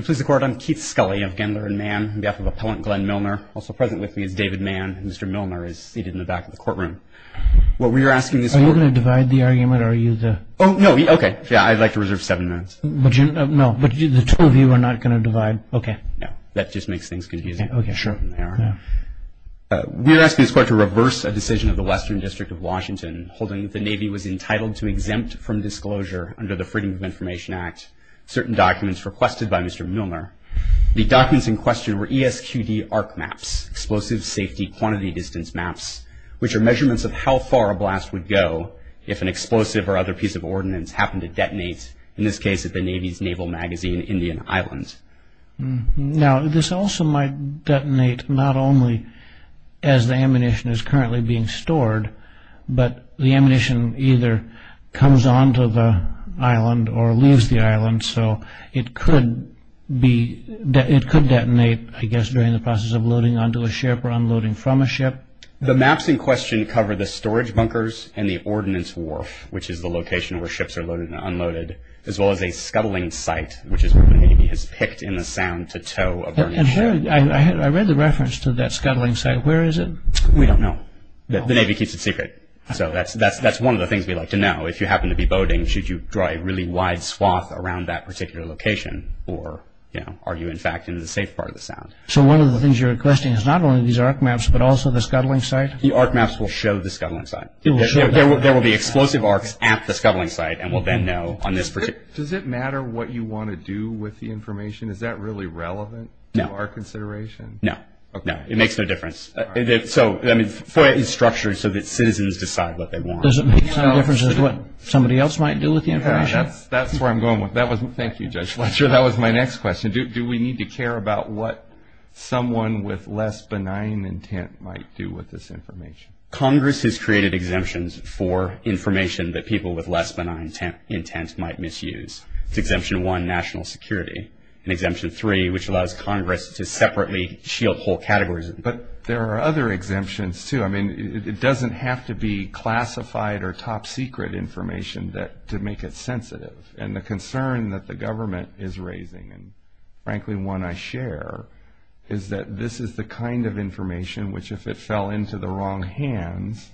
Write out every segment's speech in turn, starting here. I'm Keith Scully of Gendler and Mann, on behalf of Appellant Glenn Milner. Also present with me is David Mann. Mr. Milner is seated in the back of the courtroom. Are you going to divide the argument? No, I'd like to reserve seven minutes. But the two of you are not going to divide? No, that just makes things confusing. We are asking this court to reverse a decision of the Western District of Washington holding that the Navy was entitled to exempt from disclosure under the Freedom of Information Act certain documents requested by Mr. Milner. The documents in question were ESQD ARC maps, Explosive Safety Quantity Distance maps, which are measurements of how far a blast would go if an explosive or other piece of ordnance happened to detonate, in this case at the Navy's naval magazine, Indian Island. Now, this also might detonate not only as the ammunition is currently being stored, but the ammunition either comes onto the island or leaves the island, so it could detonate, I guess, during the process of loading onto a ship or unloading from a ship. The maps in question cover the storage bunkers and the ordnance wharf, which is the location where ships are loaded and unloaded, as well as a scuttling site, which is where the Navy has picked in the sound to tow a burning ship. I read the reference to that scuttling site. Where is it? We don't know. The Navy keeps it secret. So that's one of the things we'd like to know. If you happen to be boating, should you draw a really wide swath around that particular location, or are you, in fact, in the safe part of the sound? So one of the things you're requesting is not only these ARC maps, but also the scuttling site? The ARC maps will show the scuttling site. There will be explosive ARCs at the scuttling site, and we'll then know on this particular— Does it matter what you want to do with the information? Is that really relevant to our consideration? No. It makes no difference. FOIA is structured so that citizens decide what they want. Does it make some difference as to what somebody else might do with the information? That's where I'm going with it. Thank you, Judge Fletcher. That was my next question. Do we need to care about what someone with less benign intent might do with this information? Congress has created exemptions for information that people with less benign intent might misuse. It's Exemption 1, national security, and Exemption 3, which allows Congress to separately shield whole categories. But there are other exemptions, too. I mean, it doesn't have to be classified or top-secret information to make it sensitive. And the concern that the government is raising, and frankly one I share, is that this is the kind of information which, if it fell into the wrong hands,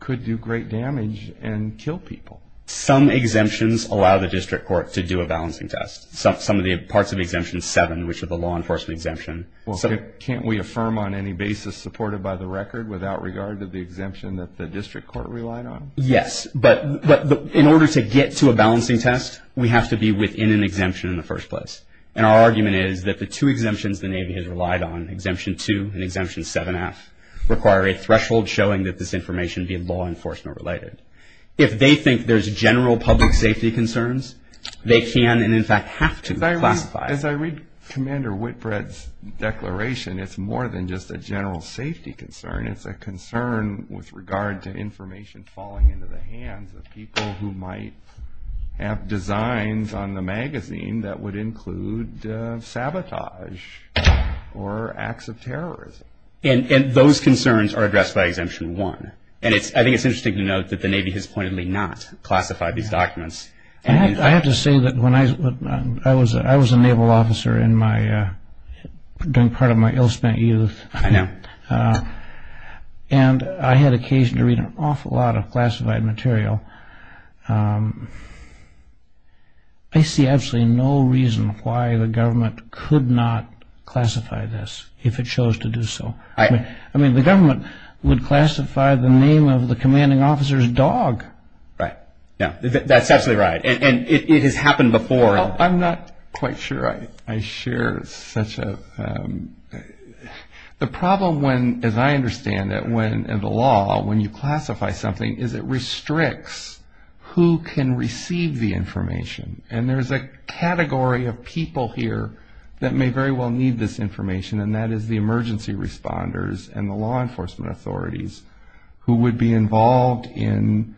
could do great damage and kill people. Some exemptions allow the district court to do a balancing test. Some of the parts of Exemption 7, which are the law enforcement exemption. Well, can't we affirm on any basis supported by the record without regard to the exemption that the district court relied on? Yes, but in order to get to a balancing test, we have to be within an exemption in the first place. And our argument is that the two exemptions the Navy has relied on, Exemption 2 and Exemption 7-F, require a threshold showing that this information be law enforcement related. If they think there's general public safety concerns, they can and in fact have to classify. As I read Commander Whitbread's declaration, it's more than just a general safety concern. It's a concern with regard to information falling into the hands of people who might have designs on the magazine that would include sabotage or acts of terrorism. And those concerns are addressed by Exemption 1. And I think it's interesting to note that the Navy has pointedly not classified these documents. I have to say that when I was a naval officer doing part of my ill-spent youth, and I had occasion to read an awful lot of classified material, I see absolutely no reason why the government could not classify this if it chose to do so. I mean, the government would classify the name of the commanding officer's dog. Right. Yeah, that's absolutely right. And it has happened before. I'm not quite sure I share such a... The problem when, as I understand it, when the law, when you classify something, is it restricts who can receive the information. And there's a category of people here that may very well need this information, and that is the emergency responders and the law enforcement authorities who would be involved in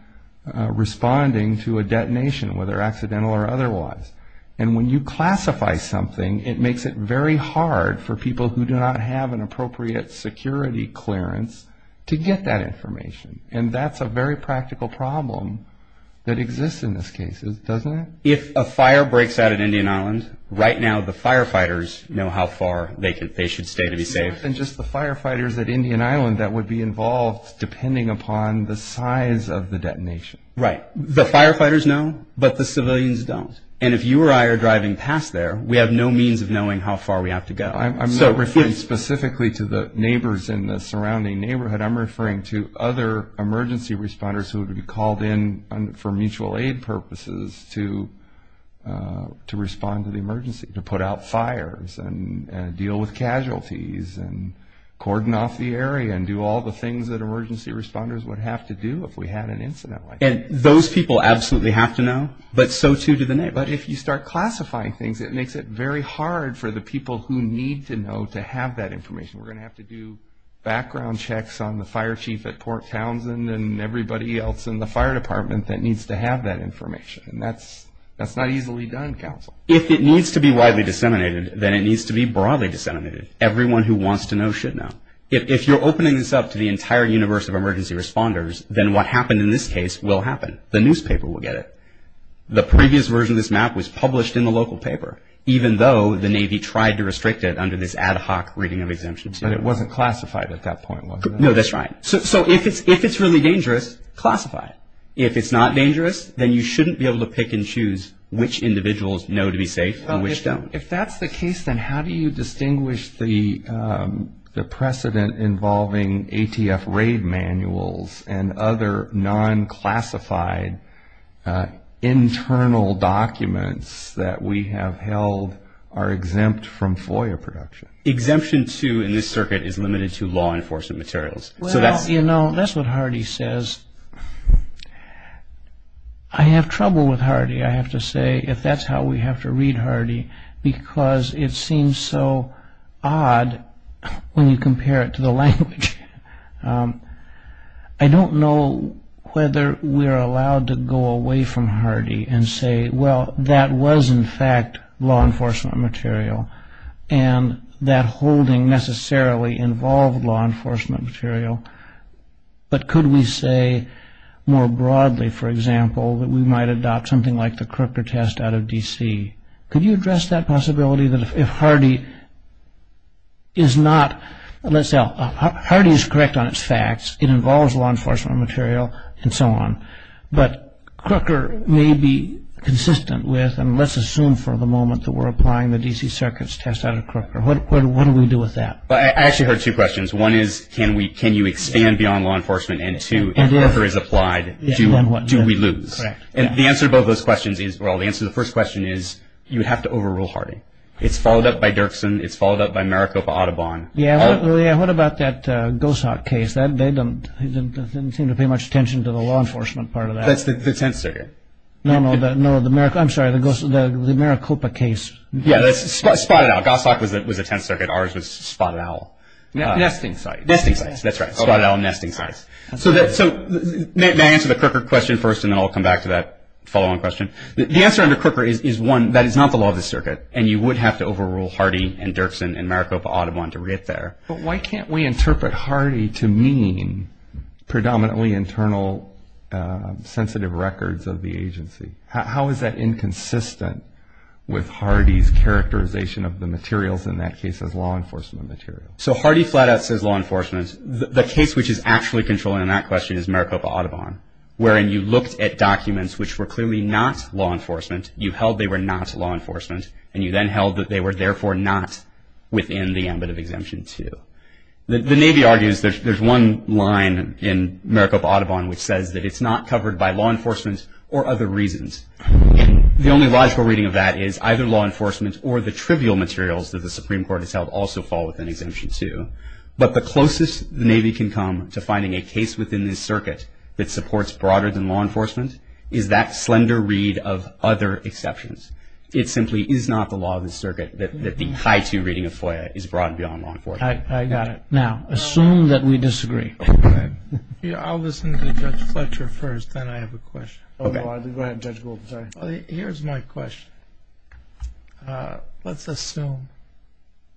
responding to a detonation, whether accidental or otherwise. And when you classify something, it makes it very hard for people who do not have an appropriate security clearance to get that information. And that's a very practical problem that exists in this case, doesn't it? If a fire breaks out at Indian Island, right now the firefighters know how far they should stay to be safe. And just the firefighters at Indian Island that would be involved, depending upon the size of the detonation. Right. The firefighters know, but the civilians don't. And if you or I are driving past there, we have no means of knowing how far we have to go. I'm not referring specifically to the neighbors in the surrounding neighborhood. I'm referring to other emergency responders who would be called in for mutual aid purposes to respond to the emergency, to put out fires and deal with casualties and cordon off the area and do all the things that emergency responders would have to do if we had an incident like that. And those people absolutely have to know, but so too do the neighbors. But if you start classifying things, it makes it very hard for the people who need to know to have that information. We're going to have to do background checks on the fire chief at Port Townsend and everybody else in the fire department that needs to have that information. And that's not easily done, counsel. If it needs to be widely disseminated, then it needs to be broadly disseminated. Everyone who wants to know should know. If you're opening this up to the entire universe of emergency responders, then what happened in this case will happen. The newspaper will get it. The previous version of this map was published in the local paper, even though the Navy tried to restrict it under this ad hoc reading of exemptions. But it wasn't classified at that point, was it? No, that's right. So if it's really dangerous, classify it. If it's not dangerous, then you shouldn't be able to pick and choose which individuals know to be safe and which don't. If that's the case, then how do you distinguish the precedent involving ATF raid manuals and other non-classified internal documents that we have held are exempt from FOIA production? Exemption to, in this circuit, is limited to law enforcement materials. Well, you know, that's what Hardy says. I have trouble with Hardy, I have to say, if that's how we have to read Hardy, because it seems so odd when you compare it to the language. I don't know whether we're allowed to go away from Hardy and say, well, that was, in fact, law enforcement material, and that holding necessarily involved law enforcement material. But could we say more broadly, for example, that we might adopt something like the Crooker test out of D.C.? Could you address that possibility that if Hardy is not, let's say, Hardy is correct on its facts, it involves law enforcement material, and so on. But Crooker may be consistent with, and let's assume for the moment that we're applying the D.C. Circuit's test out of Crooker. What do we do with that? Well, I actually heard two questions. One is, can you expand beyond law enforcement? And two, if Crooker is applied, do we lose? And the answer to both of those questions is, well, the answer to the first question is, you have to overrule Hardy. It's followed up by Dirksen. It's followed up by Maricopa Audubon. Yeah, what about that Gosok case? They didn't seem to pay much attention to the law enforcement part of that. That's the tenth circuit. No, no. I'm sorry. The Maricopa case. Yeah, that's Spotted Owl. Gosok was the tenth circuit. Ours was Spotted Owl. Nesting sites. Nesting sites. That's right. Spotted Owl and nesting sites. So may I answer the Crooker question first, and then I'll come back to that follow-on question? The answer under Crooker is, one, that is not the law of the circuit, and you would have to overrule Hardy and Dirksen and Maricopa Audubon to get there. But why can't we interpret Hardy to mean predominantly internal sensitive records of the agency? How is that inconsistent with Hardy's characterization of the materials, in that case as law enforcement materials? So Hardy flat out says law enforcement. The case which is actually controlling that question is Maricopa Audubon, wherein you looked at documents which were clearly not law enforcement, you held they were not law enforcement, and you then held that they were therefore not within the ambit of Exemption 2. The Navy argues there's one line in Maricopa Audubon which says that it's not covered by law enforcement or other reasons. The only logical reading of that is either law enforcement or the trivial materials that the Supreme Court has held also fall within Exemption 2. But the closest the Navy can come to finding a case within this circuit that supports broader than law enforcement is that slender read of other exceptions. It simply is not the law of the circuit that the high two reading of FOIA is broad beyond law enforcement. I got it. Now, assume that we disagree. I'll listen to Judge Fletcher first, then I have a question. Go ahead, Judge Gould. Here's my question. Let's assume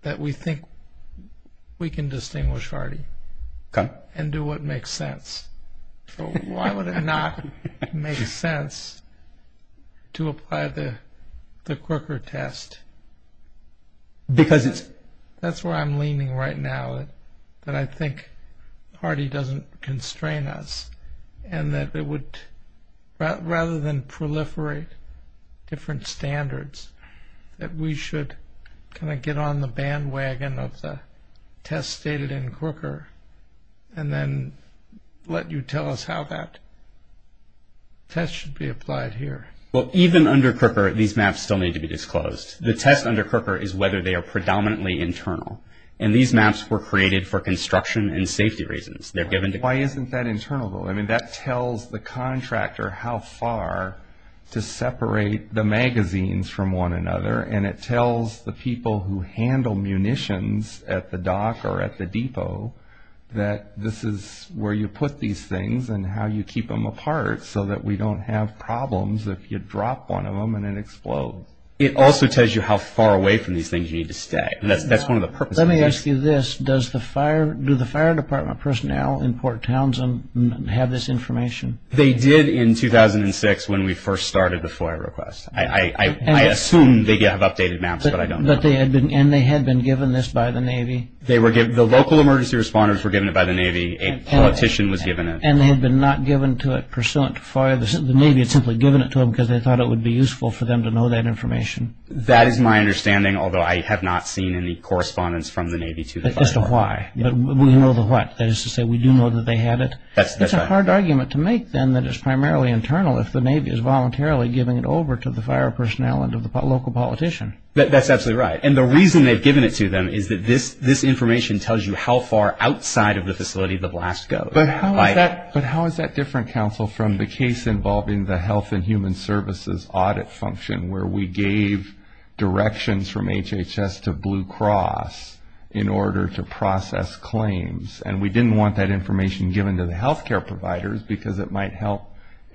that we think we can distinguish Hardy and do what makes sense. Why would it not make sense to apply the Crooker test? Because it's… That's where I'm leaning right now, that I think Hardy doesn't constrain us and that it would rather than proliferate different standards, that we should kind of get on the bandwagon of the test stated in Crooker and then let you tell us how that test should be applied here. Well, even under Crooker, these maps still need to be disclosed. The test under Crooker is whether they are predominantly internal, and these maps were created for construction and safety reasons. They're given to… Why isn't that internal, though? I mean, that tells the contractor how far to separate the magazines from one another, and it tells the people who handle munitions at the dock or at the depot that this is where you put these things and how you keep them apart so that we don't have problems if you drop one of them and it explodes. It also tells you how far away from these things you need to stay. That's one of the purposes of this. Let me ask you this. Do the fire department personnel in Port Townsend have this information? They did in 2006 when we first started the FOIA request. I assume they have updated maps, but I don't know. And they had been given this by the Navy? The local emergency responders were given it by the Navy. A politician was given it. And they had been not given to it pursuant to FOIA. The Navy had simply given it to them because they thought it would be useful for them to know that information. That is my understanding, although I have not seen any correspondence from the Navy to the fire department. As to why? But we know the what? That is to say we do know that they had it? That's right. It's a hard argument to make, then, that it's primarily internal if the Navy is voluntarily giving it over to the fire personnel and to the local politician. That's absolutely right. And the reason they've given it to them is that this information tells you how far outside of the facility the blast goes. But how is that different, Counsel, from the case involving the Health and Human Services audit function where we gave directions from HHS to Blue Cross in order to process claims, and we didn't want that information given to the health care providers because it might help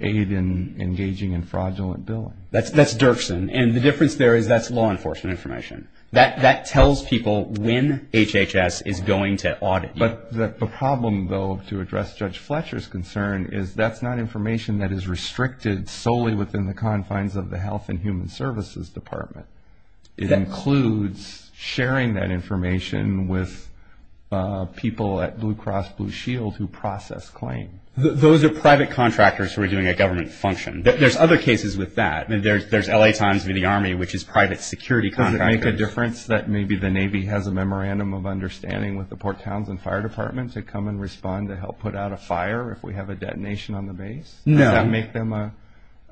aid in engaging in fraudulent billing? That's Dirksen. And the difference there is that's law enforcement information. That tells people when HHS is going to audit you. But the problem, though, to address Judge Fletcher's concern is that's not information that is restricted solely within the confines of the Health and Human Services Department. It includes sharing that information with people at Blue Cross Blue Shield who process claims. Those are private contractors who are doing a government function. There's other cases with that. There's L.A. Times v. The Army, which is private security contractors. Does it make a difference that maybe the Navy has a memorandum of understanding with the Port Townsend Fire Department to come and respond to help put out a fire if we have a detonation on the base? No. Does that make them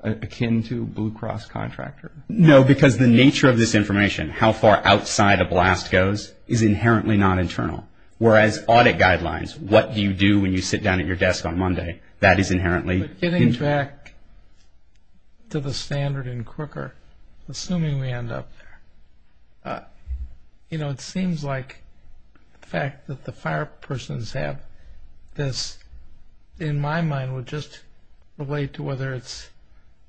akin to Blue Cross contractors? No, because the nature of this information, how far outside a blast goes, is inherently not internal. Whereas audit guidelines, what do you do when you sit down at your desk on Monday, that is inherently... But getting back to the standard and quicker, assuming we end up there, you know, it seems like the fact that the fire persons have this, in my mind, would just relate to whether it's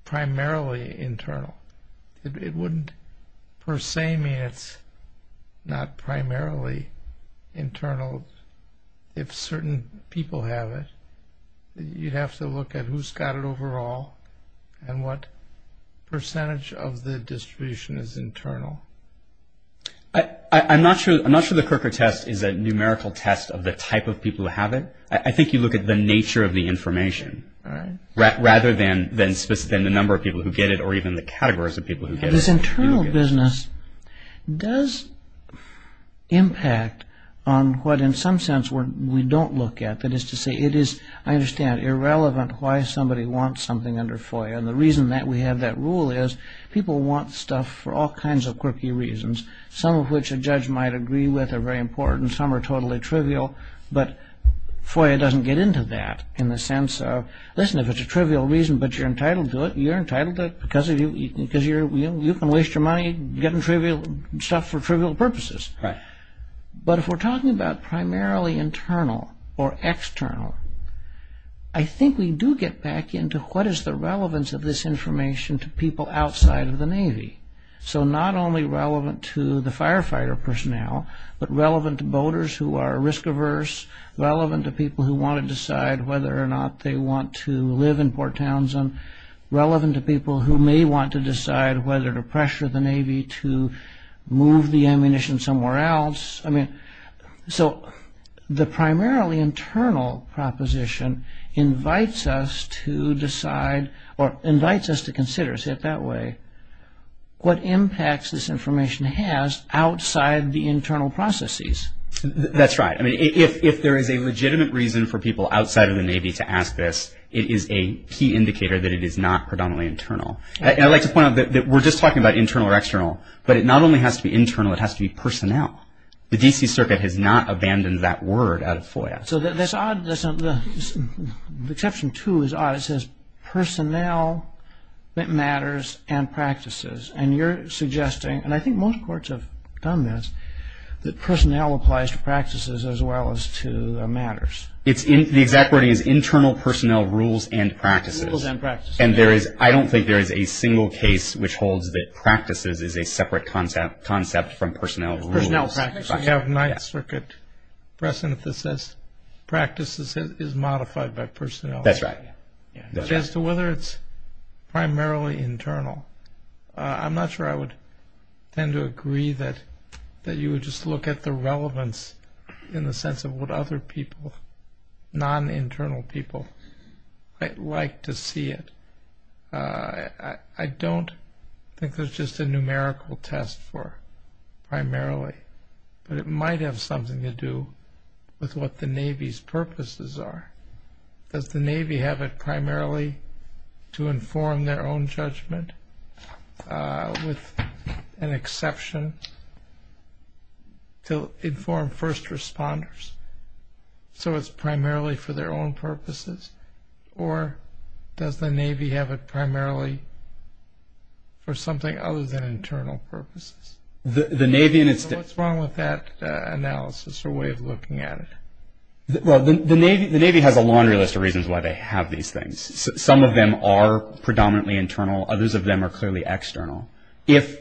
primarily internal. It wouldn't per se mean it's not primarily internal if certain people have it. You'd have to look at who's got it overall and what percentage of the distribution is internal. I'm not sure the Kirker test is a numerical test of the type of people who have it. I think you look at the nature of the information rather than the number of people who get it or even the categories of people who get it. This internal business does impact on what, in some sense, we don't look at. That is to say, it is, I understand, irrelevant why somebody wants something under FOIA. And the reason that we have that rule is people want stuff for all kinds of quirky reasons, some of which a judge might agree with are very important, some are totally trivial, but FOIA doesn't get into that in the sense of, listen, if it's a trivial reason but you're entitled to it, you're entitled to it because you can waste your money getting stuff for trivial purposes. But if we're talking about primarily internal or external, I think we do get back into what is the relevance of this information to people outside of the Navy. So not only relevant to the firefighter personnel, but relevant to boaters who are risk-averse, relevant to people who want to decide whether or not they want to live in Port Townsend, relevant to people who may want to decide whether to pressure the Navy to move the ammunition somewhere else. I mean, so the primarily internal proposition invites us to decide or invites us to consider, say it that way, what impacts this information has outside the internal processes. That's right. I mean, if there is a legitimate reason for people outside of the Navy to ask this, it is a key indicator that it is not predominantly internal. And I'd like to point out that we're just talking about internal or external, but it not only has to be internal, it has to be personnel. The D.C. Circuit has not abandoned that word out of FOIA. So that's odd. Exception two is odd. It says personnel matters and practices. And you're suggesting, and I think most courts have done this, that personnel applies to practices as well as to matters. The exact wording is internal personnel rules and practices. Rules and practices. And I don't think there is a single case which holds that practices is a separate concept from personnel rules. Personnel practices. I have Ninth Circuit presynthesis. Practices is modified by personnel. That's right. As to whether it's primarily internal, I'm not sure I would tend to agree that you would just look at the relevance in the sense of what other people, non-internal people, might like to see it. I don't think there's just a numerical test for primarily, but it might have something to do with what the Navy's purposes are. Does the Navy have it primarily to inform their own judgment, with an exception, to inform first responders? So it's primarily for their own purposes? Or does the Navy have it primarily for something other than internal purposes? What's wrong with that analysis or way of looking at it? Well, the Navy has a laundry list of reasons why they have these things. Some of them are predominantly internal. Others of them are clearly external. If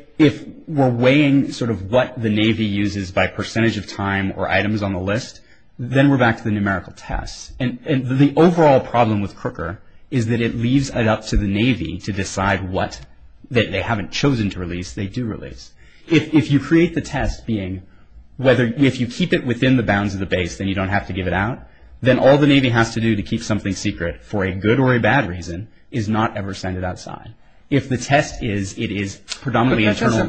we're weighing sort of what the Navy uses by percentage of time or items on the list, then we're back to the numerical test. And the overall problem with Crooker is that it leaves it up to the Navy to decide what they haven't chosen to release, they do release. If you create the test being, if you keep it within the bounds of the base, then you don't have to give it out, then all the Navy has to do to keep something secret, for a good or a bad reason, is not ever send it outside. If the test is it is predominantly internal.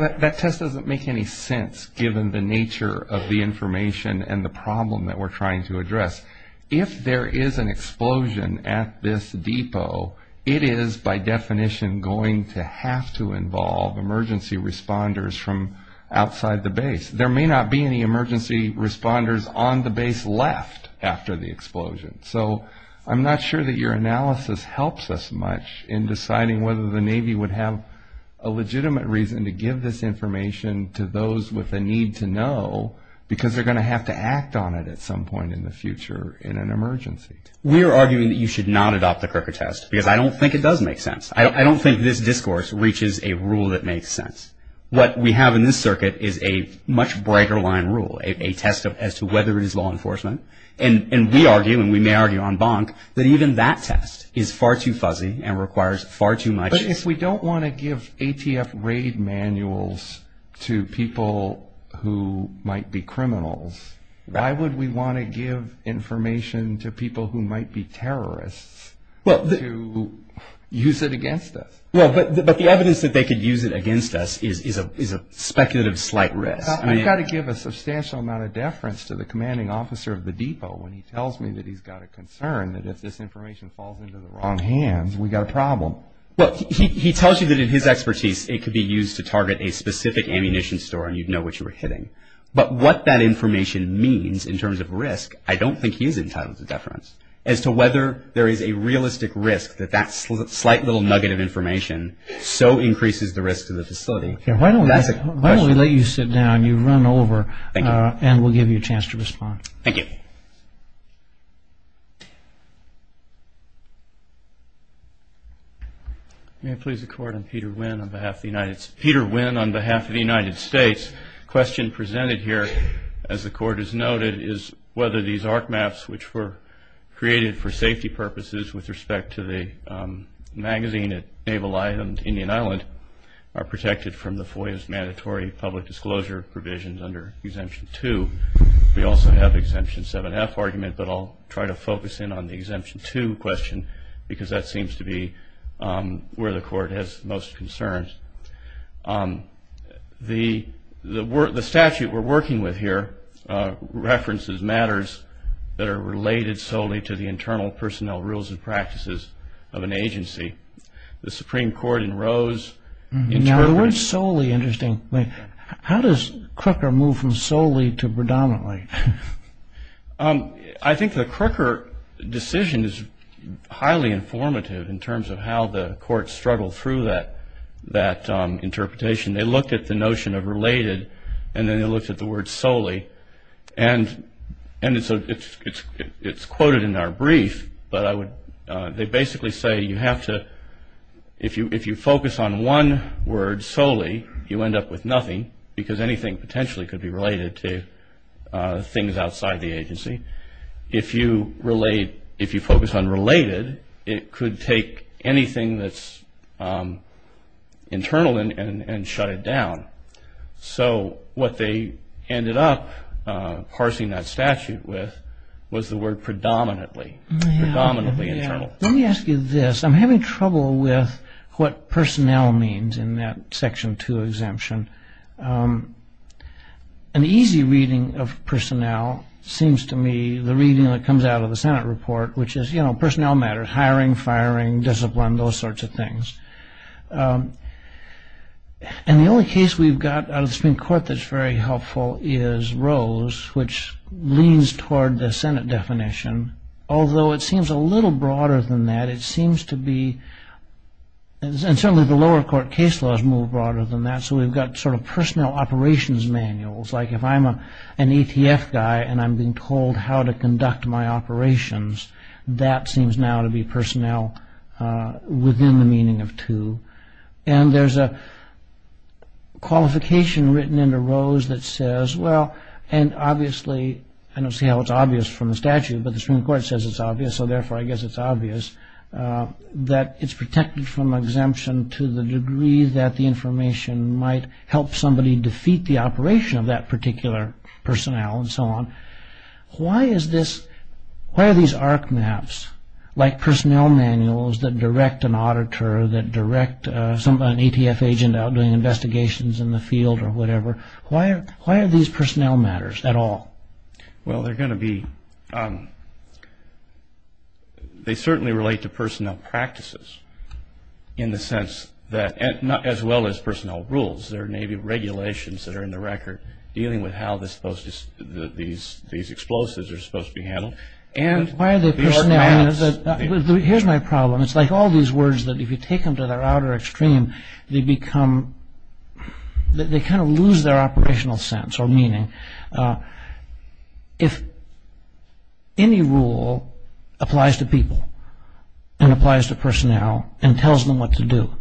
But that test doesn't make any sense, given the nature of the information and the problem that we're trying to address. If there is an explosion at this depot, it is by definition going to have to involve emergency responders from outside the base. There may not be any emergency responders on the base left after the explosion. So I'm not sure that your analysis helps us much in deciding whether the Navy would have a legitimate reason to give this information to those with a need to know, because they're going to have to act on it at some point in the future in an emergency. We're arguing that you should not adopt the Crooker test, because I don't think it does make sense. I don't think this discourse reaches a rule that makes sense. What we have in this circuit is a much brighter line rule, a test as to whether it is law enforcement. And we argue, and we may argue on Bonk, that even that test is far too fuzzy and requires far too much. But if we don't want to give ATF raid manuals to people who might be criminals, why would we want to give information to people who might be terrorists to use it against us? Well, but the evidence that they could use it against us is a speculative slight risk. I've got to give a substantial amount of deference to the commanding officer of the depot when he tells me that he's got a concern that if this information falls into the wrong hands, we've got a problem. Well, he tells you that in his expertise it could be used to target a specific ammunition store, and you'd know what you were hitting. But what that information means in terms of risk, I don't think he's entitled to deference. As to whether there is a realistic risk that that slight little nugget of information so increases the risk to the facility, that's a question. Why don't we let you sit down? You've run over. Thank you. And we'll give you a chance to respond. Thank you. May I please the court? I'm Peter Wynn on behalf of the United States. The question presented here, as the court has noted, is whether these arc maps which were created for safety purposes with respect to the magazine at Naval Island, Indian Island, are protected from the FOIA's mandatory public disclosure provisions under Exemption 2. We also have the Exemption 7F argument, but I'll try to focus in on the Exemption 2 question, because that seems to be where the court has the most concerns. The statute we're working with here references matters that are related solely to the internal personnel rules and practices of an agency. The Supreme Court in Rose interpreted... Now, the word solely, interesting. How does Crooker move from solely to predominantly? I think the Crooker decision is highly informative in terms of how the court struggled through that interpretation. They looked at the notion of related, and then they looked at the word solely, and it's quoted in our brief, but they basically say if you focus on one word solely, you end up with nothing, because anything potentially could be related to things outside the agency. If you focus on related, it could take anything that's internal and shut it down. So what they ended up parsing that statute with was the word predominantly, predominantly internal. Let me ask you this. I'm having trouble with what personnel means in that Section 2 exemption. An easy reading of personnel seems to me the reading that comes out of the Senate report, which is, you know, personnel matters, hiring, firing, discipline, those sorts of things. And the only case we've got out of the Supreme Court that's very helpful is Rose, which leans toward the Senate definition, although it seems a little broader than that. It seems to be... And certainly the lower court case laws move broader than that, so we've got sort of personnel operations manuals, like if I'm an ATF guy and I'm being told how to conduct my operations, that seems now to be personnel within the meaning of 2. And there's a qualification written into Rose that says, well, and obviously, I don't see how it's obvious from the statute, but the Supreme Court says it's obvious, so therefore I guess it's obvious, that it's protected from exemption to the degree that the information might help somebody defeat the operation of that particular personnel and so on. Why is this... Why are these ARC maps, like personnel manuals that direct an auditor, that direct an ATF agent out doing investigations in the field or whatever, why are these personnel matters at all? Well, they're going to be... They certainly relate to personnel practices in the sense that, as well as personnel rules, there may be regulations that are in the record dealing with how these explosives are supposed to be handled. And why are they personnel? Here's my problem. It's like all these words that if you take them to their outer extreme, they become... They kind of lose their operational sense or meaning. If any rule applies to people and applies to personnel and tells them what to do,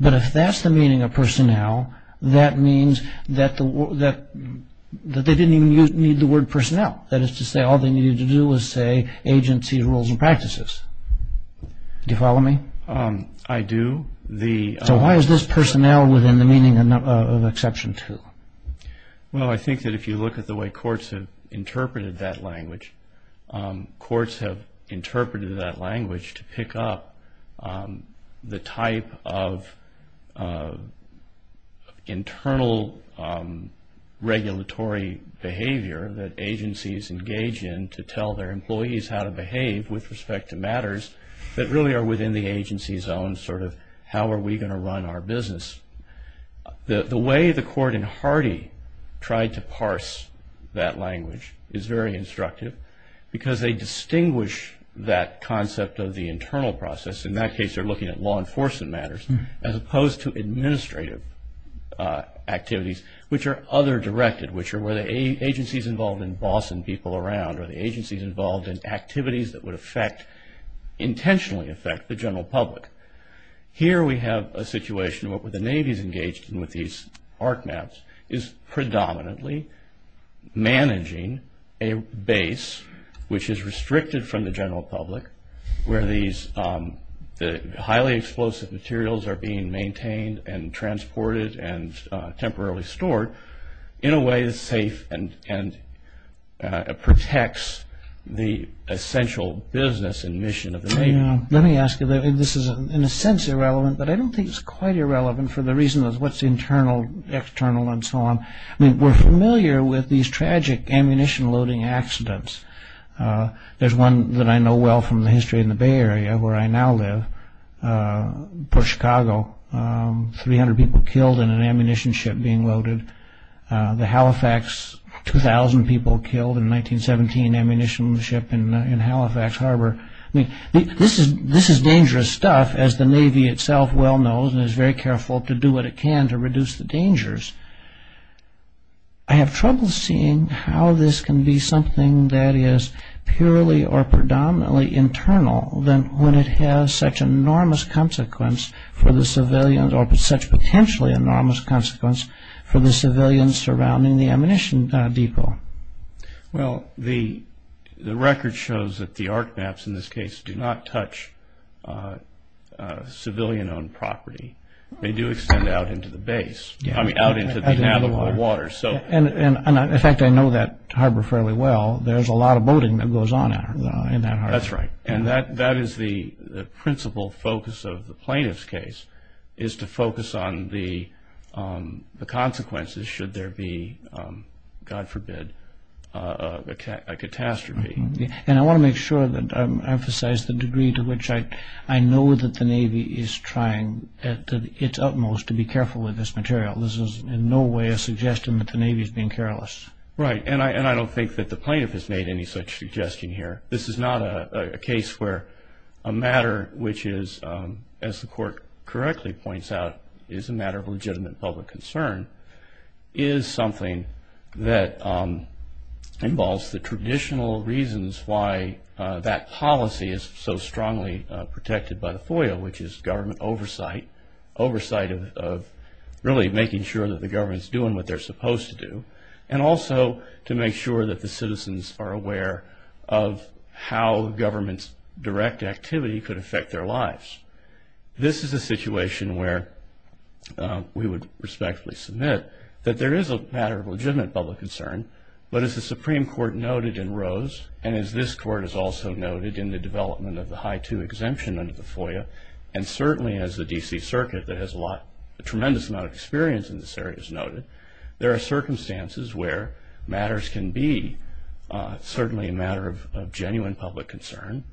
but if that's the meaning of personnel, that means that they didn't even need the word personnel. That is to say, all they needed to do was say agency rules and practices. Do you follow me? I do. So why is this personnel within the meaning of exception to? Well, I think that if you look at the way courts have interpreted that language, courts have interpreted that language to pick up the type of internal regulatory behavior that agencies engage in to tell their employees how to behave with respect to matters that really are within the agency's own sort of how are we going to run our business. The way the court in Hardy tried to parse that language is very instructive because they distinguish that concept of the internal process. In that case, they're looking at law enforcement matters as opposed to administrative activities, which are other directed, which are where the agency's involved in bossing people around or the agency's involved in activities that would intentionally affect the general public. Here we have a situation where the Navy's engaged with these art maps is predominantly managing a base, which is restricted from the general public where the highly explosive materials are being maintained and transported and temporarily stored in a way that's safe and protects the essential business and mission of the Navy. Let me ask you, this is in a sense irrelevant, but I don't think it's quite irrelevant for the reason of what's internal, external, and so on. We're familiar with these tragic ammunition loading accidents. There's one that I know well from the history in the Bay Area where I now live, Port Chicago, 300 people killed in an ammunition ship being loaded. The Halifax, 2,000 people killed in a 1917 ammunition ship in Halifax Harbor. I mean, this is dangerous stuff, as the Navy itself well knows and is very careful to do what it can to reduce the dangers. I have trouble seeing how this can be something that is purely or predominantly internal than when it has such enormous consequence for the civilians or such potentially enormous consequence for the civilians surrounding the ammunition depot. Well, the record shows that the arc maps in this case do not touch civilian-owned property. They do extend out into the base. I mean, out into the navigable water. And in fact, I know that harbor fairly well. There's a lot of boating that goes on in that harbor. That's right, and that is the principal focus of the plaintiff's case is to focus on the consequences should there be, God forbid, a catastrophe. And I want to make sure that I emphasize the degree to which I know that the Navy is trying at its utmost to be careful with this material. This is in no way a suggestion that the Navy is being careless. Right, and I don't think that the plaintiff has made any such suggestion here. This is not a case where a matter which is, as the court correctly points out, is a matter of legitimate public concern, is something that involves the traditional reasons why that policy is so strongly protected by the FOIA, which is government oversight, oversight of really making sure that the government's doing what they're supposed to do, and also to make sure that the citizens are aware of how the government's direct activity could affect their lives. This is a situation where we would respectfully submit that there is a matter of legitimate public concern, but as the Supreme Court noted in Rose, and as this court has also noted in the development of the High 2 exemption under the FOIA, and certainly as the D.C. Circuit that has a tremendous amount of experience in this area has noted, there are circumstances where matters can be certainly a matter of genuine public concern,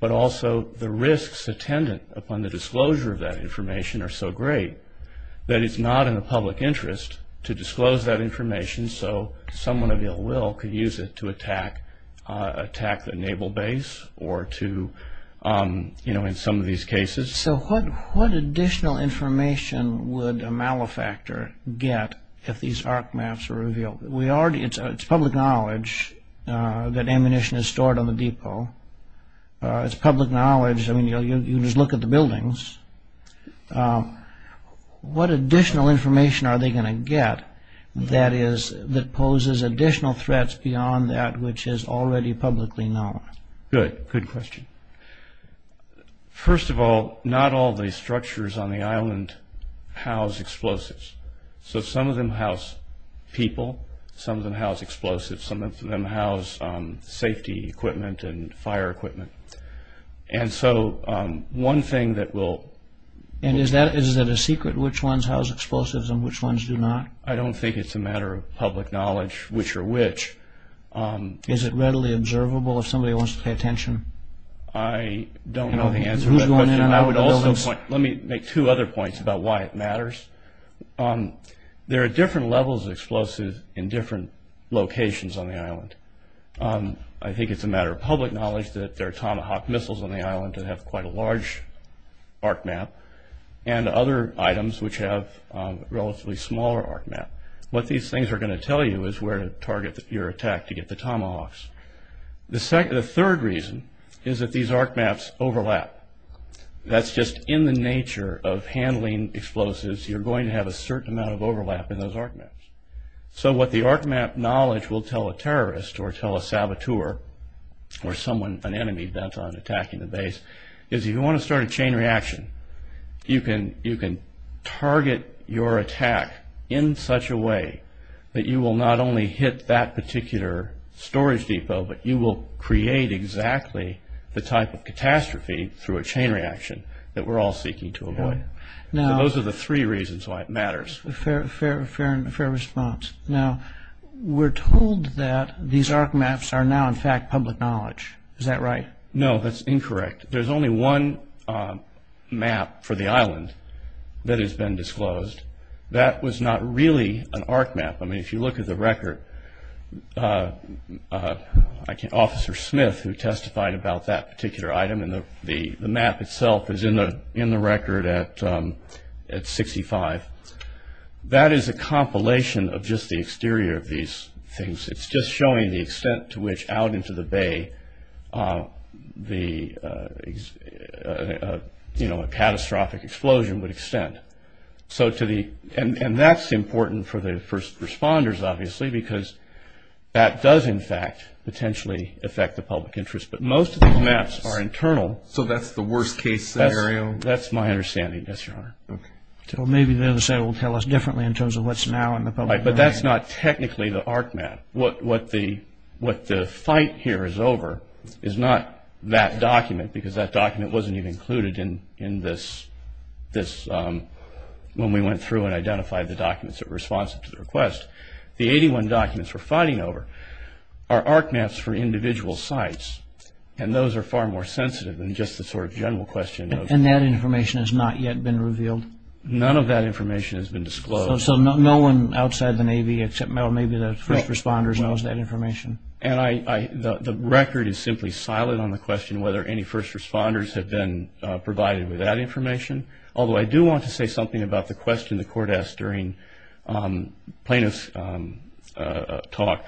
but also the risks attendant upon the disclosure of that information are so great that it's not in the public interest to disclose that information so someone of ill will could use it to attack the naval base or to, you know, in some of these cases. So what additional information would a malefactor get if these ARC maps were revealed? It's public knowledge that ammunition is stored on the depot. It's public knowledge. I mean, you just look at the buildings. What additional information are they going to get that poses additional threats beyond that which is already publicly known? Good. Good question. First of all, not all the structures on the island house explosives. So some of them house people. Some of them house explosives. Some of them house safety equipment and fire equipment. And so one thing that will... And is that a secret which ones house explosives and which ones do not? I don't think it's a matter of public knowledge which are which. Is it readily observable if somebody wants to pay attention? I don't know the answer to that question. Let me make two other points about why it matters. There are different levels of explosives in different locations on the island. I think it's a matter of public knowledge that there are Tomahawk missiles on the island that have quite a large ARC map and other items which have a relatively smaller ARC map. What these things are going to tell you is where to target your attack to get the Tomahawks. The third reason is that these ARC maps overlap. That's just in the nature of handling explosives, you're going to have a certain amount of overlap in those ARC maps. So what the ARC map knowledge will tell a terrorist or tell a saboteur or someone, an enemy that's on attacking the base, is if you want to start a chain reaction, you can target your attack in such a way that you will not only hit that particular storage depot, but you will create exactly the type of catastrophe through a chain reaction that we're all seeking to avoid. Those are the three reasons why it matters. Fair response. Now, we're told that these ARC maps are now in fact public knowledge. Is that right? No, that's incorrect. There's only one map for the island that has been disclosed. That was not really an ARC map. I mean, if you look at the record, Officer Smith, who testified about that particular item, and the map itself is in the record at 65, that is a compilation of just the exterior of these things. It's just showing the extent to which out into the bay a catastrophic explosion would extend. And that's important for the first responders, obviously, because that does in fact potentially affect the public interest. But most of these maps are internal. So that's the worst case scenario? That's my understanding, yes, Your Honor. Okay. Maybe the other side will tell us differently in terms of what's now in the public domain. But that's not technically the ARC map. What the fight here is over is not that document, because that document wasn't even included in this when we went through and identified the documents that were responsive to the request. The 81 documents we're fighting over are ARC maps for individual sites, and those are far more sensitive than just the sort of general question. And that information has not yet been revealed? None of that information has been disclosed. So no one outside the Navy except maybe the first responders knows that information? And the record is simply silent on the question whether any first responders have been provided with that information. Although I do want to say something about the question the court asked during Plaintiff's talk.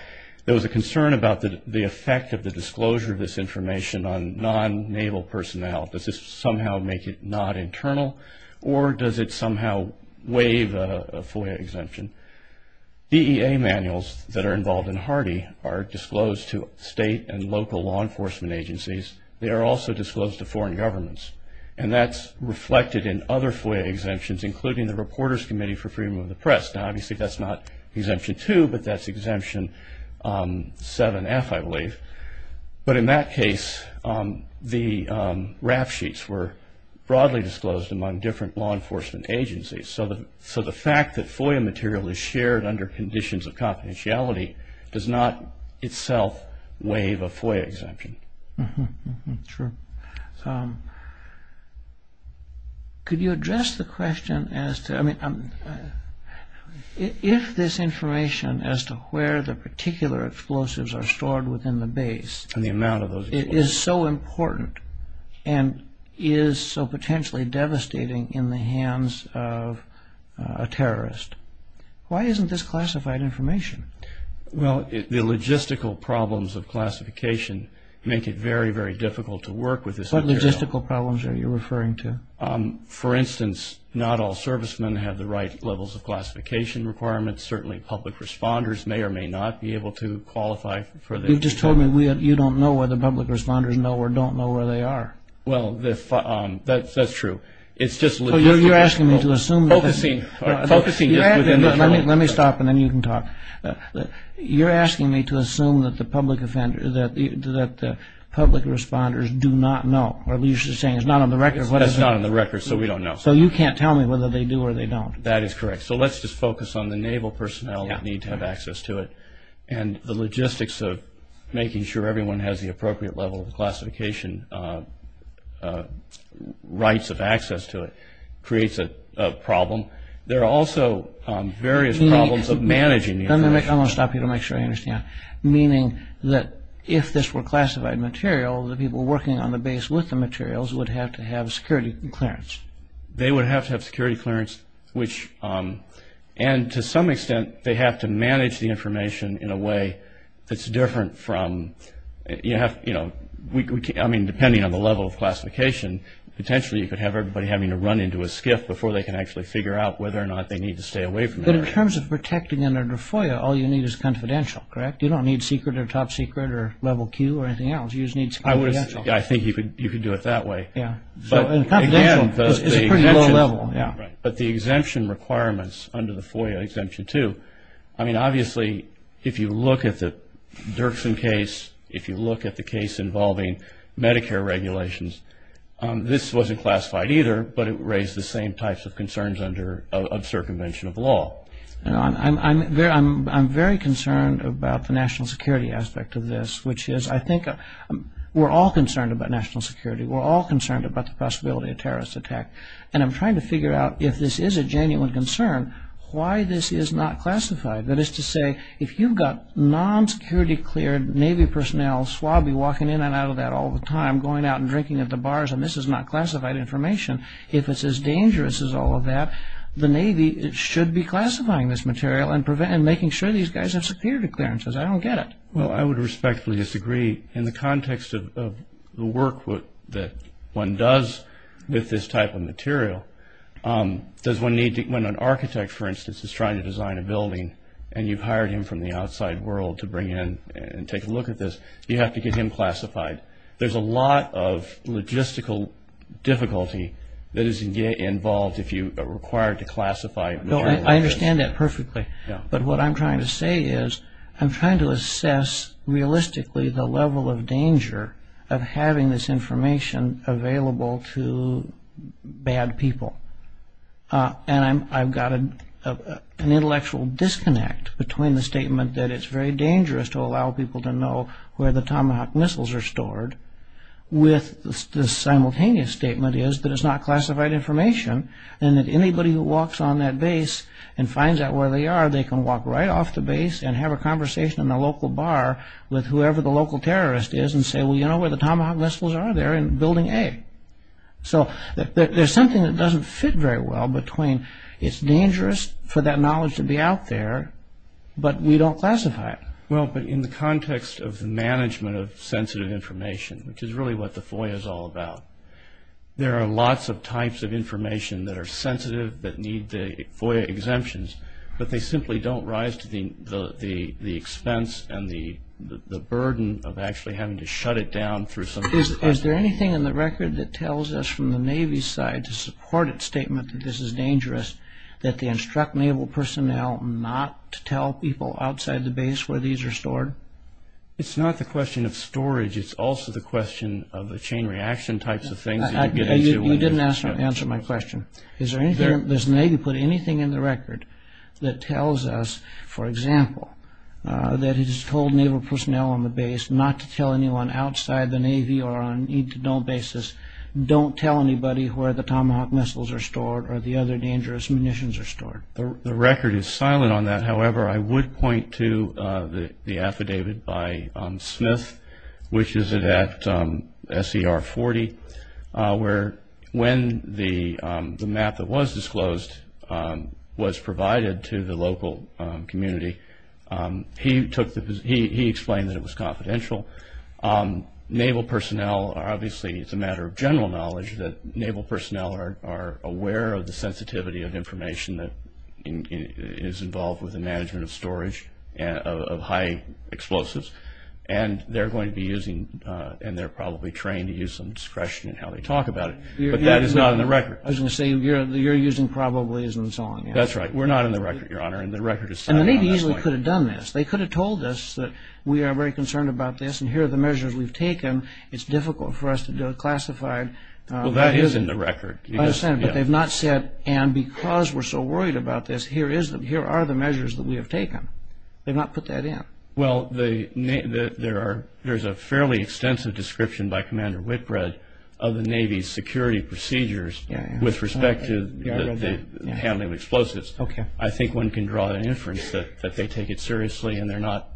There was a concern about the effect of the disclosure of this information on non-Naval personnel. Does this somehow make it not internal? Or does it somehow waive a FOIA exemption? DEA manuals that are involved in Hardy are disclosed to state and local law enforcement agencies. They are also disclosed to foreign governments. And that's reflected in other FOIA exemptions, including the Reporters Committee for Freedom of the Press. Now, obviously, that's not Exemption 2, but that's Exemption 7F, I believe. But in that case, the RAF sheets were broadly disclosed among different law enforcement agencies. So the fact that FOIA material is shared under conditions of confidentiality does not itself waive a FOIA exemption. Sure. Could you address the question as to, I mean, if this information as to where the particular explosives are stored within the base is so important and is so potentially devastating in the hands of a terrorist, why isn't this classified information? Well, the logistical problems of classification make it very, very difficult to work with this material. What logistical problems are you referring to? For instance, not all servicemen have the right levels of classification requirements. Certainly, public responders may or may not be able to qualify for this. You just told me you don't know whether public responders know or don't know where they are. Well, that's true. You're asking me to assume. Focusing. Let me stop and then you can talk. You're asking me to assume that the public responders do not know, or you're just saying it's not on the record. It's not on the record, so we don't know. So you can't tell me whether they do or they don't. That is correct. So let's just focus on the naval personnel that need to have access to it and the logistics of making sure everyone has the appropriate level of classification rights of access to it creates a problem. There are also various problems of managing the information. I'm going to stop you to make sure I understand. Meaning that if this were classified material, the people working on the base with the materials would have to have security clearance. They would have to have security clearance, and to some extent they have to manage the information in a way that's different from, I mean, depending on the level of classification, potentially you could have everybody having to run into a skiff before they can actually figure out whether or not they need to stay away from it. But in terms of protecting it under FOIA, all you need is confidential, correct? You don't need secret or top secret or level Q or anything else. You just need confidential. I think you could do it that way. Yeah. And confidential is a pretty low level. But the exemption requirements under the FOIA Exemption 2, I mean, obviously if you look at the Dirksen case, if you look at the case involving Medicare regulations, this wasn't classified either, but it raised the same types of concerns of circumvention of law. I'm very concerned about the national security aspect of this, which is I think we're all concerned about national security. We're all concerned about the possibility of a terrorist attack. And I'm trying to figure out if this is a genuine concern, why this is not classified. That is to say, if you've got non-security cleared Navy personnel, swabby, walking in and out of that all the time, going out and drinking at the bars, and this is not classified information, if it's as dangerous as all of that, the Navy should be classifying this material and making sure these guys have security clearances. I don't get it. Well, I would respectfully disagree. In the context of the work that one does with this type of material, when an architect, for instance, is trying to design a building and you've hired him from the outside world to bring in and take a look at this, you have to get him classified. There's a lot of logistical difficulty that is involved if you are required to classify material. I understand that perfectly. But what I'm trying to say is I'm trying to assess realistically the level of danger of having this information available to bad people. And I've got an intellectual disconnect between the statement that it's very dangerous to allow people to know where the Tomahawk missiles are stored with the simultaneous statement is that it's not classified information and that anybody who walks on that base and finds out where they are, they can walk right off the base and have a conversation in the local bar with whoever the local terrorist is and say, well, you know where the Tomahawk missiles are? They're in Building A. So there's something that doesn't fit very well between it's dangerous for that knowledge to be out there, but we don't classify it. Well, but in the context of the management of sensitive information, which is really what the FOIA is all about, there are lots of types of information that are sensitive that need the FOIA exemptions, but they simply don't rise to the expense and the burden of actually having to shut it down. Is there anything in the record that tells us from the Navy's side to support its statement that this is dangerous, that they instruct Naval personnel not to tell people outside the base where these are stored? It's not the question of storage. It's also the question of the chain reaction types of things that you're getting into. You didn't answer my question. Does the Navy put anything in the record that tells us, for example, that it has told Naval personnel on the base not to tell anyone outside the Navy or on a need-to-know basis don't tell anybody where the Tomahawk missiles are stored or the other dangerous munitions are stored? The record is silent on that. However, I would point to the affidavit by Smith, which is at SER 40, where when the map that was disclosed was provided to the local community, he explained that it was confidential. Naval personnel are, obviously, it's a matter of general knowledge, that Naval personnel are aware of the sensitivity of information that is involved with the management of storage of high explosives, and they're going to be using and they're probably trained to use some discretion in how they talk about it. But that is not in the record. I was going to say, you're using probably as I'm telling you. That's right. We're not in the record, Your Honor, and the record is silent on that point. And the Navy easily could have done this. They could have told us that we are very concerned about this and here are the measures we've taken. It's difficult for us to do a classified. Well, that is in the record. I understand, but they've not said, and because we're so worried about this, here are the measures that we have taken. They've not put that in. Well, there's a fairly extensive description by Commander Whitbread of the Navy's security procedures with respect to the handling of explosives. Okay. I think one can draw an inference that they take it seriously and they're not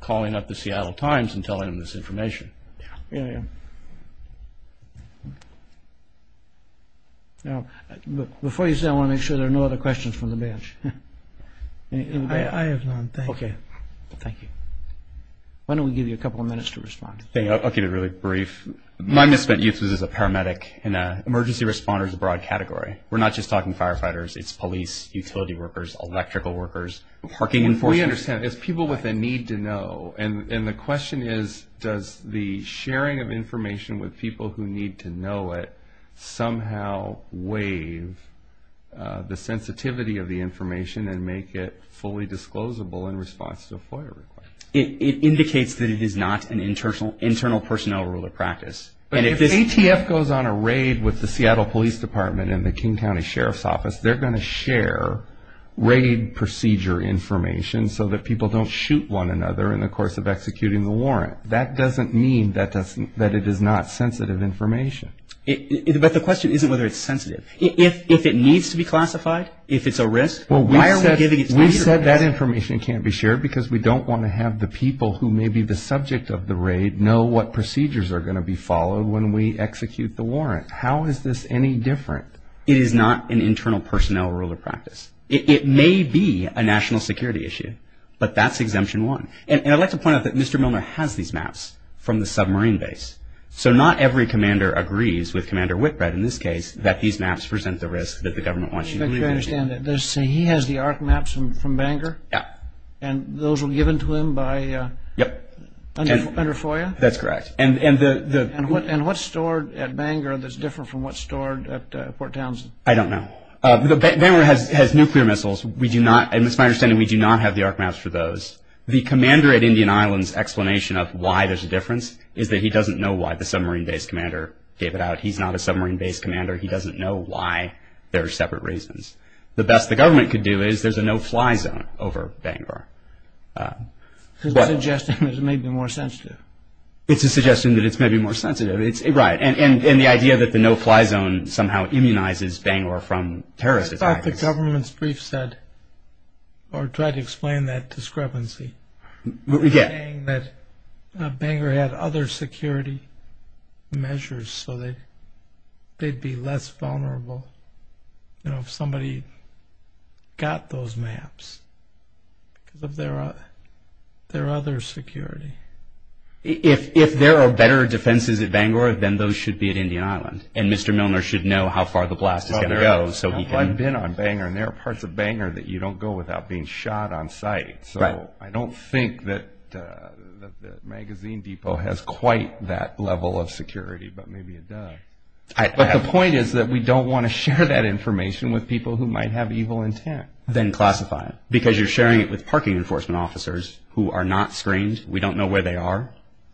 calling up the Seattle Times and telling them this information. Yeah. Yeah, yeah. Before you say that, I want to make sure there are no other questions from the bench. I have none. Thank you. Okay. Thank you. Why don't we give you a couple of minutes to respond. I'll keep it really brief. My mission at UTS is as a paramedic and an emergency responder is a broad category. We're not just talking firefighters. It's police, utility workers, electrical workers, parking enforcement. We understand. It's people with a need to know. And the question is, does the sharing of information with people who need to know it somehow waive the sensitivity of the information and make it fully disclosable in response to a FOIA request? It indicates that it is not an internal personnel rule of practice. And if ATF goes on a raid with the Seattle Police Department and the King County Sheriff's Office, they're going to share raid procedure information so that people don't shoot one another in the course of executing the warrant. That doesn't mean that it is not sensitive information. But the question isn't whether it's sensitive. If it needs to be classified, if it's a risk, why are we giving it to ATF? We said that information can't be shared because we don't want to have the people who may be the subject of the raid know what procedures are going to be followed when we execute the warrant. How is this any different? It is not an internal personnel rule of practice. It may be a national security issue, but that's Exemption 1. And I'd like to point out that Mr. Milner has these maps from the submarine base. So not every commander agrees with Commander Whitbread in this case that these maps present the risk that the government wants you to believe in. He has the ARC maps from Bangor? Yeah. And those were given to him under FOIA? That's correct. And what's stored at Bangor that's different from what's stored at Port Townsend? I don't know. Bangor has nuclear missiles. It's my understanding we do not have the ARC maps for those. The commander at Indian Island's explanation of why there's a difference is that he doesn't know why the submarine base commander gave it out. He's not a submarine base commander. He doesn't know why there are separate reasons. The best the government could do is there's a no-fly zone over Bangor. Suggesting that it may be more sensitive. It's a suggestion that it's maybe more sensitive. Right. And the idea that the no-fly zone somehow immunizes Bangor from terrorist attacks. I thought the government's brief said, or tried to explain that discrepancy. They're saying that Bangor had other security measures so they'd be less vulnerable if somebody got those maps. Because of their other security. If there are better defenses at Bangor, then those should be at Indian Island. And Mr. Milner should know how far the blast is going to go. I've been on Bangor, and there are parts of Bangor that you don't go without being shot on sight. So I don't think that the magazine depot has quite that level of security, but maybe it does. But the point is that we don't want to share that information with people who might have evil intent. Then classify it. Because you're sharing it with parking enforcement officers who are not screened. We don't know where they are.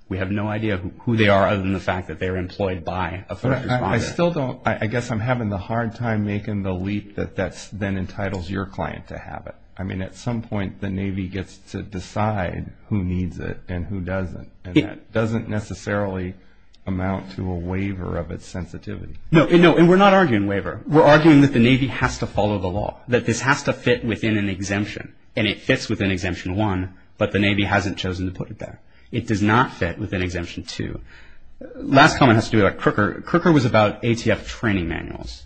We have no idea who they are other than the fact that they're employed by a threat responder. I still don't. I guess I'm having a hard time making the leap that then entitles your client to have it. I mean, at some point the Navy gets to decide who needs it and who doesn't. And that doesn't necessarily amount to a waiver of its sensitivity. No. And we're not arguing waiver. We're arguing that the Navy has to follow the law. That this has to fit within an exemption. And it fits within Exemption 1, but the Navy hasn't chosen to put it there. It does not fit within Exemption 2. Last comment has to do with Crooker. Crooker was about ATF training manuals.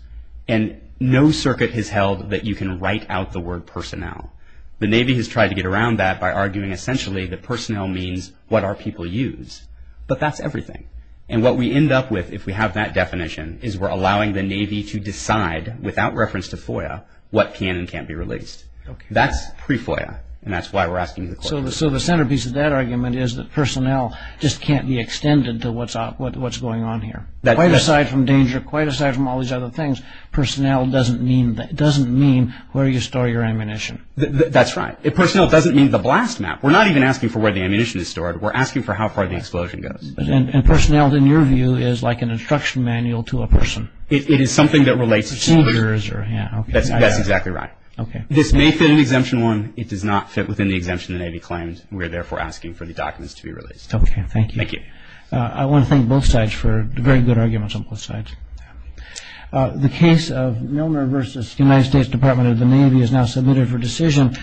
And no circuit has held that you can write out the word personnel. The Navy has tried to get around that by arguing essentially that personnel means what our people use. But that's everything. And what we end up with if we have that definition is we're allowing the Navy to decide, without reference to FOIA, what can and can't be released. That's pre-FOIA. And that's why we're asking the question. So the centerpiece of that argument is that personnel just can't be extended to what's going on here. Quite aside from danger, quite aside from all these other things, personnel doesn't mean where you store your ammunition. That's right. Personnel doesn't mean the blast map. We're not even asking for where the ammunition is stored. We're asking for how far the explosion goes. And personnel, in your view, is like an instruction manual to a person. It is something that relates to a person. That's exactly right. This may fit in Exemption 1. It does not fit within the exemption the Navy claims. We're therefore asking for the documents to be released. Okay, thank you. Thank you. I want to thank both sides for the very good arguments on both sides. The case of Milner v. United States Department of the Navy is now submitted for decision.